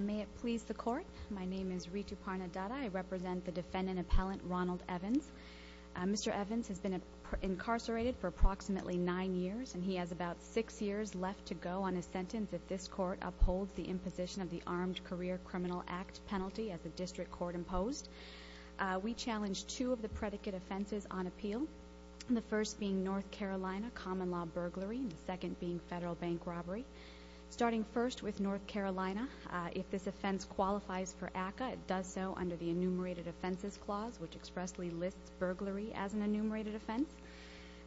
May it please the court. My name is Ritu Parnadatta. I represent the defendant appellant Ronald Evans. Mr. Evans has been incarcerated for approximately nine years and he has about six years left to go on a sentence if this court upholds the imposition of the Armed Career Criminal Act penalty as the district court imposed. We challenge two of the predicate offenses on appeal. The first being North Carolina common-law burglary and the second being federal bank robbery. Starting first with North Carolina, if this offense qualifies for ACCA it does so under the enumerated offenses clause which expressly lists burglary as an enumerated offense.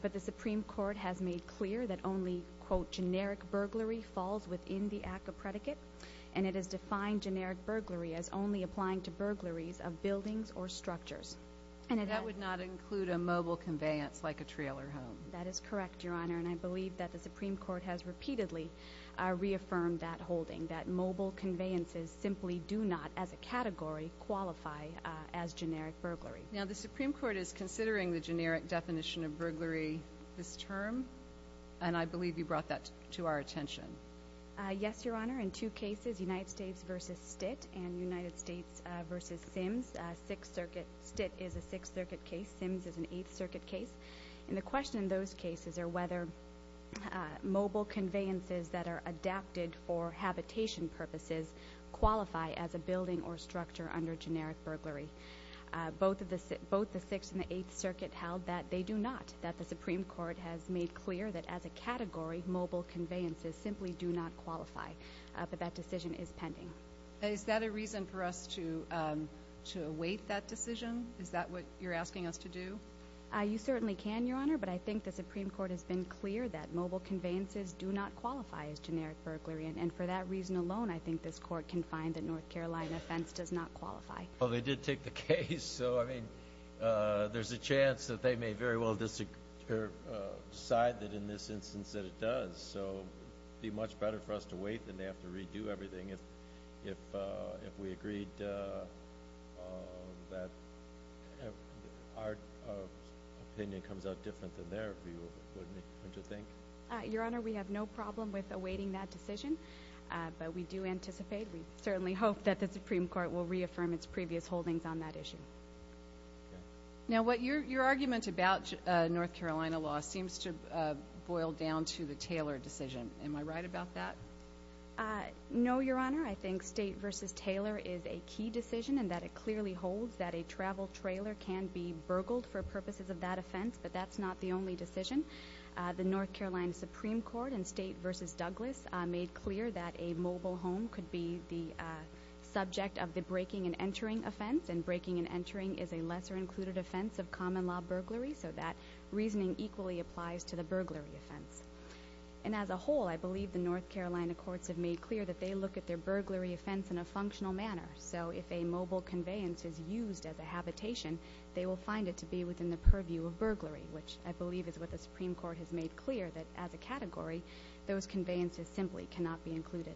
But the Supreme Court has made clear that only quote generic burglary falls within the ACCA predicate and it is defined generic burglary as only applying to burglaries of buildings or structures. And that would not include a mobile conveyance like a trailer home. That is a generic burglary. The Supreme Court has explicitly reaffirmed that holding that mobile conveyances simply do not as a category qualify as generic burglary. Now the Supreme Court is considering the generic definition of burglary this term and I believe you brought that to our attention. Yes your Honor. In two cases United States v. Stitt and United States v. Sims. Sixth Circuit. Stitt is a Sixth Circuit case. Sims is an Eighth Circuit case. And the question in those cases are whether mobile conveyances that are adapted for habitation purposes qualify as a building or structure under generic burglary. Both of the both the Sixth and the Eighth Circuit held that they do not. That the Supreme Court has made clear that as a category mobile conveyances simply do not qualify. But that decision is pending. Is that a reason for us to to await that decision? Is that what you're asking us to do? You certainly can your Honor. But I think the Supreme Court has been clear that mobile conveyances do not qualify as generic burglary. And for that reason alone I think this court can find that North Carolina offense does not qualify. Well they did take the case. So I mean there's a chance that they may very well decide that in this instance that it does. So be much better for us to wait than they have to redo everything. If if if we agreed that our opinion comes out different than their view wouldn't you think? Your Honor we have no problem with awaiting that decision. But we do anticipate we certainly hope that the Supreme Court will reaffirm its previous holdings on that issue. Now what your your argument about North Carolina law seems to boil down to the Taylor decision. Am I right about that? No your Honor. I think State versus Taylor is a key decision and that it clearly holds that a travel trailer can be burgled for but that's not the only decision. The North Carolina Supreme Court in State versus Douglas made clear that a mobile home could be the subject of the breaking and entering offense. And breaking and entering is a lesser included offense of common law burglary. So that reasoning equally applies to the burglary offense. And as a whole I believe the North Carolina courts have made clear that they look at their burglary offense in a functional manner. So if a mobile conveyance is used as a habitation they will find it to be within the purview of burglary. Which I believe is what the Supreme Court has made clear that as a category those conveyances simply cannot be included.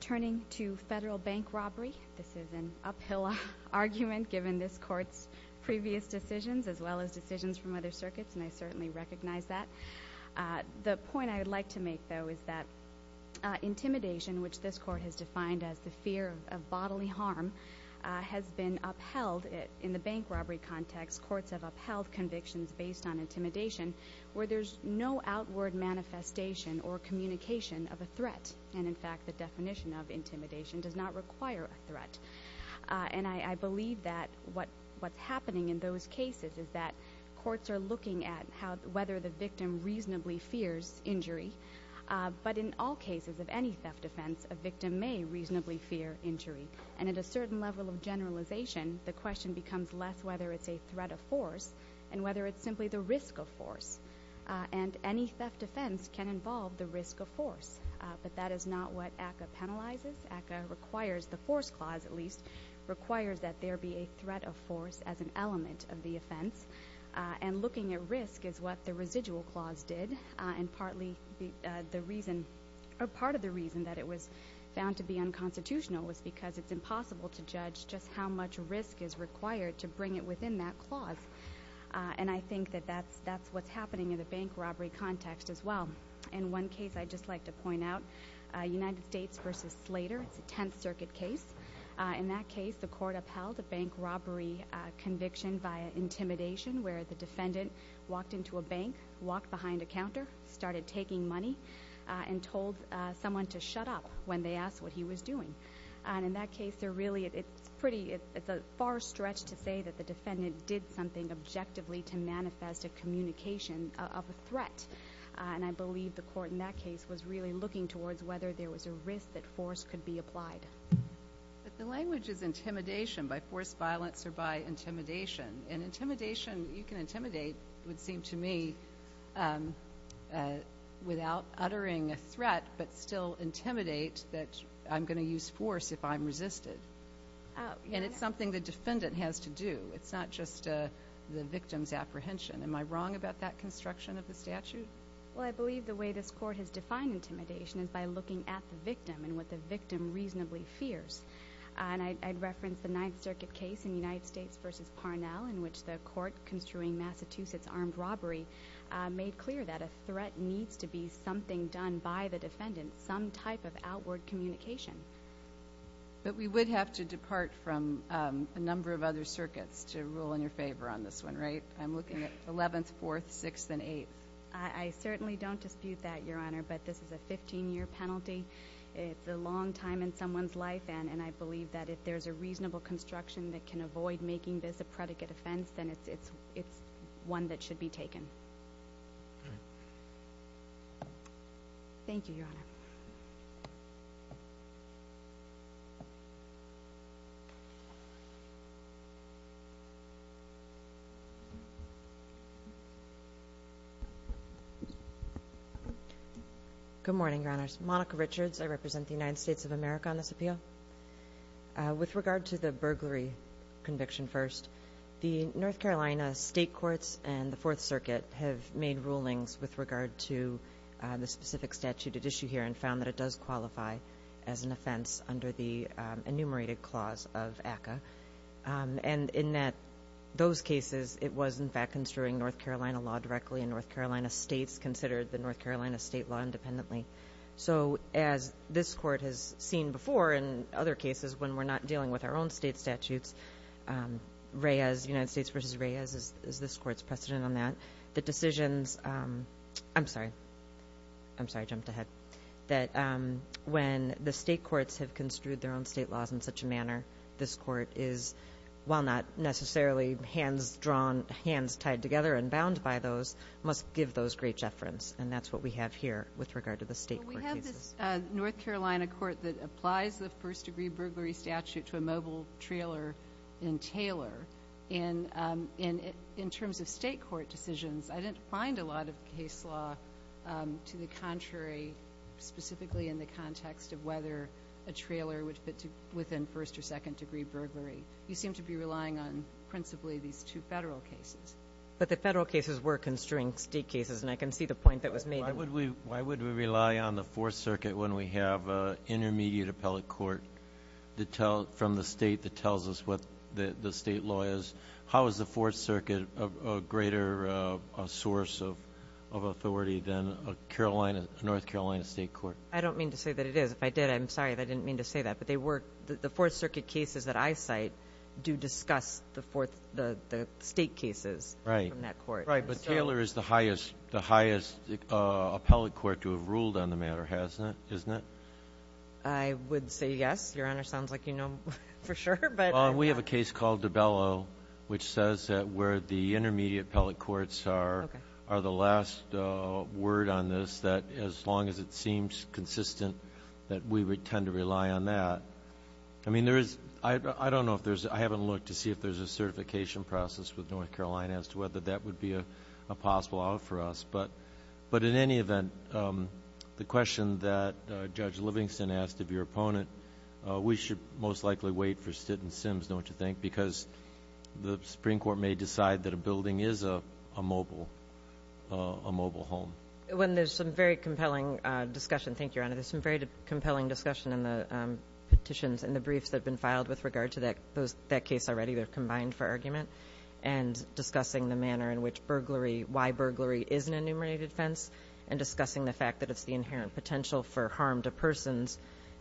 Turning to federal bank robbery this is an uphill argument given this court's previous decisions as well as decisions from other circuits and I certainly recognize that. The point I would like to make though is that intimidation which this court has defined as the fear of bodily harm has been upheld in the bank robbery context. Courts have upheld convictions based on intimidation where there's no outward manifestation or communication of a threat. And in fact the definition of intimidation does not require a threat. And I believe that what's happening in those cases is that courts are looking at how whether the victim reasonably fears injury. But in all cases of any theft offense a victim may reasonably fear injury. And at a certain level of generalization the question becomes less whether it's a threat of force and whether it's simply the risk of force. And any theft offense can involve the risk of force. But that is not what ACCA penalizes. ACCA requires, the force clause at least, requires that there be a threat of force as an element of the offense. And looking at risk is what the residual clause did. And partly the reason or part of the reason that it was found to be unconstitutional was because it's impossible to judge just how much risk is required to bring it within that clause. And I think that that's what's happening in the bank robbery context as well. In one case I'd just like to point out, United States versus Slater, it's a Tenth Circuit case. In that case the court upheld a bank robbery conviction via intimidation where the defendant walked into a bank, walked behind a counter, started taking money, and told someone to shut up when they asked what he was doing. And in that case they're really, it's pretty, it's a far stretch to say that the defendant did something objectively to manifest a communication of a threat. And I believe the court in that case was really looking towards whether there was a risk that force could be applied. But the language is intimidation, by force violence or by intimidation. And intimidation, you can intimidate, would seem to me, without uttering a threat, but still intimidate that I'm going to use force if I'm resisted. And it's something the defendant has to do. It's not just the victim's apprehension. Am I wrong about that construction of the statute? Well, I believe the way this court has defined intimidation is by looking at the victim and what the victim reasonably fears. And I'd reference the Ninth Circuit case in United States versus Parnell in which the court construing Massachusetts armed robbery made clear that a threat needs to be something done by the But we would have to depart from a number of other circuits to rule in your favor on this one, right? I'm looking at 11th, 4th, 6th, and 8th. I certainly don't dispute that, Your Honor, but this is a 15-year penalty. It's a long time in someone's life. And I believe that if there's a reasonable construction that can avoid making this a predicate offense, then it's one that should be considered. Good morning, Your Honors. Monica Richards. I represent the United States of America on this appeal. With regard to the burglary conviction first, the North Carolina State Courts and the Fourth Circuit have made rulings with regard to the specific statute at issue here and found that it does qualify as an offense under the enumerated clause of ACCA. And in those cases, it was, in fact, construing North Carolina law directly, and North Carolina states considered the North Carolina state law independently. So as this court has seen before in other cases when we're not dealing with our own state statutes, Reyes, United States versus Reyes, is this court's precedent on that. The state courts have construed their own state laws in such a manner. This court is, while not necessarily hands drawn, hands tied together and bound by those, must give those great deference. And that's what we have here with regard to the state court cases. Well, we have this North Carolina court that applies the first-degree burglary statute to a mobile trailer in Taylor. And in terms of state court decisions, I didn't find a lot of case law to the contrary, specifically in the case where a trailer would fit within first- or second-degree burglary. You seem to be relying on principally these two federal cases. But the federal cases were construing state cases, and I can see the point that was made. Why would we rely on the Fourth Circuit when we have an intermediate appellate court from the state that tells us what the state law is? How is the Fourth Circuit a greater source of authority than a North Carolina state court? I don't mean to say that it is. If I did, I'm sorry. I didn't mean to say that. But the Fourth Circuit cases that I cite do discuss the state cases from that court. Right. But Taylor is the highest appellate court to have ruled on the matter, hasn't it? I would say yes. Your Honor sounds like you know for sure. But we have a case called DiBello, which says that where the intermediate that we tend to rely on that. I haven't looked to see if there's a certification process with North Carolina as to whether that would be a possible out for us. But in any event, the question that Judge Livingston asked of your opponent, we should most likely wait for Stitt and Sims, don't you think? Because the Supreme Court may decide that a building is a mobile home. There's some very compelling discussion. Thank you, Your Honor. There's some very compelling discussion in the petitions and the briefs that have been filed with regard to that case already. They're combined for argument and discussing the manner in which burglary, why burglary is an enumerated offense and discussing the fact that it's the inherent potential for harm to persons,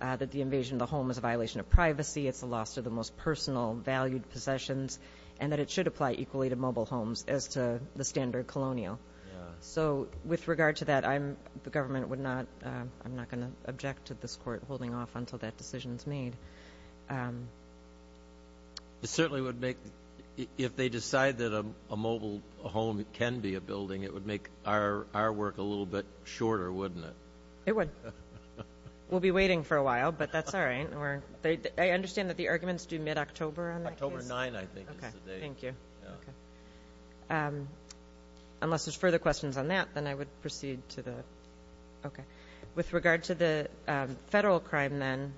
that the invasion of the home is a violation of privacy. It's a loss to the most personal valued possessions and that it should apply equally to With regard to that, the government would not, I'm not going to object to this court holding off until that decision is made. It certainly would make, if they decide that a mobile home can be a building, it would make our work a little bit shorter, wouldn't it? It would. We'll be waiting for a while, but that's all right. I understand that the arguments do mid-October on that case? October 9, I think, is the date. Okay, thank you. Unless there's further questions on that, then I would proceed to the, okay. With regard to the federal crime then,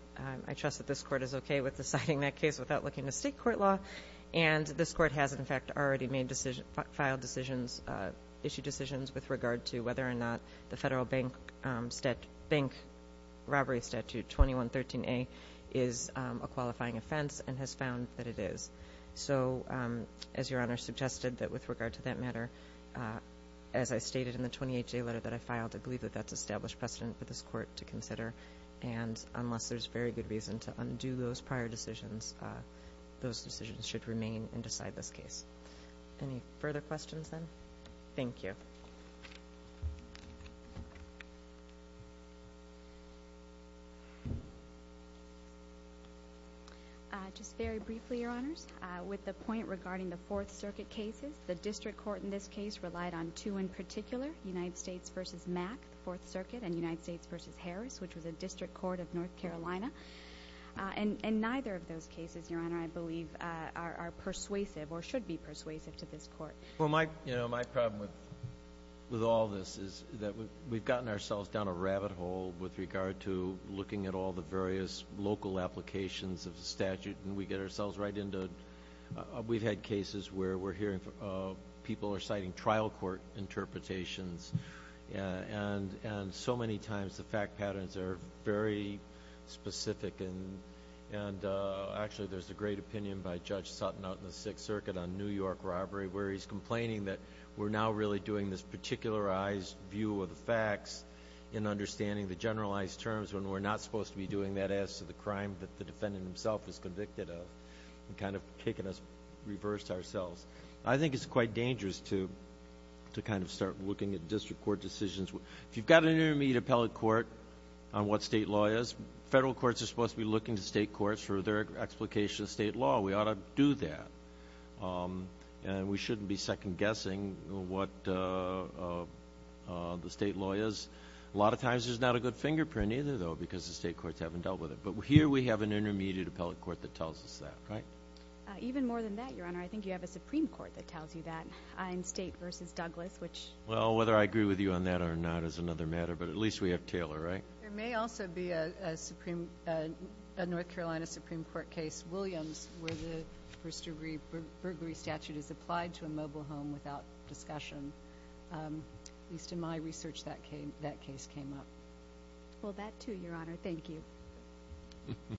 I trust that this court is okay with deciding that case without looking to state court law and this court has, in fact, already made decision, filed decisions, issued decisions with regard to whether or not the federal bank robbery statute 2113A is a crime. Your Honor, I suggested that with regard to that matter, as I stated in the 28-day letter that I filed, I believe that that's established precedent for this court to consider and unless there's very good reason to undo those prior decisions, those decisions should remain and decide this case. Any further questions, then? Thank you. Just very briefly, Your Honors, with the point regarding the Fourth Circuit cases, the district court in this case relied on two in particular, United States v. Mack, the Fourth Circuit, and United States v. Harris, which was a district court of North Carolina, and neither of those cases, Your Honor, I believe are persuasive or should be persuasive to this court. Well, my, you know, my problem with all this is that we've gotten ourselves down a rabbit hole with regard to looking at all the various local applications of the statute and we get ourselves right into... we've had cases where we're hearing people are citing trial court interpretations and so many times the fact patterns are very specific and actually there's a great opinion by Judge Sutton out in the community that we're really doing this particularized view of the facts in understanding the generalized terms when we're not supposed to be doing that as to the crime that the defendant himself is convicted of and kind of taking us reverse ourselves. I think it's quite dangerous to kind of start looking at district court decisions. If you've got an intermediate appellate court on what state law is, federal courts are supposed to be looking to state courts for their explication of state law. We ought to do that and we shouldn't be second guessing what the state law is. A lot of times there's not a good fingerprint either though because the state courts haven't dealt with it, but here we have an intermediate appellate court that tells us that, right? Even more than that, Your Honor, I think you have a Supreme Court that tells you that in state versus Douglas, which... Well, whether I agree with you on that or not is another matter, but at least we have Taylor, right? There may also be a Supreme... a North Carolina Supreme Court case, Williams, where the first degree burglary statute is applied to a mobile home without discussion. At least in my research, that case came up. Well, that too, Your Honor. Thank you.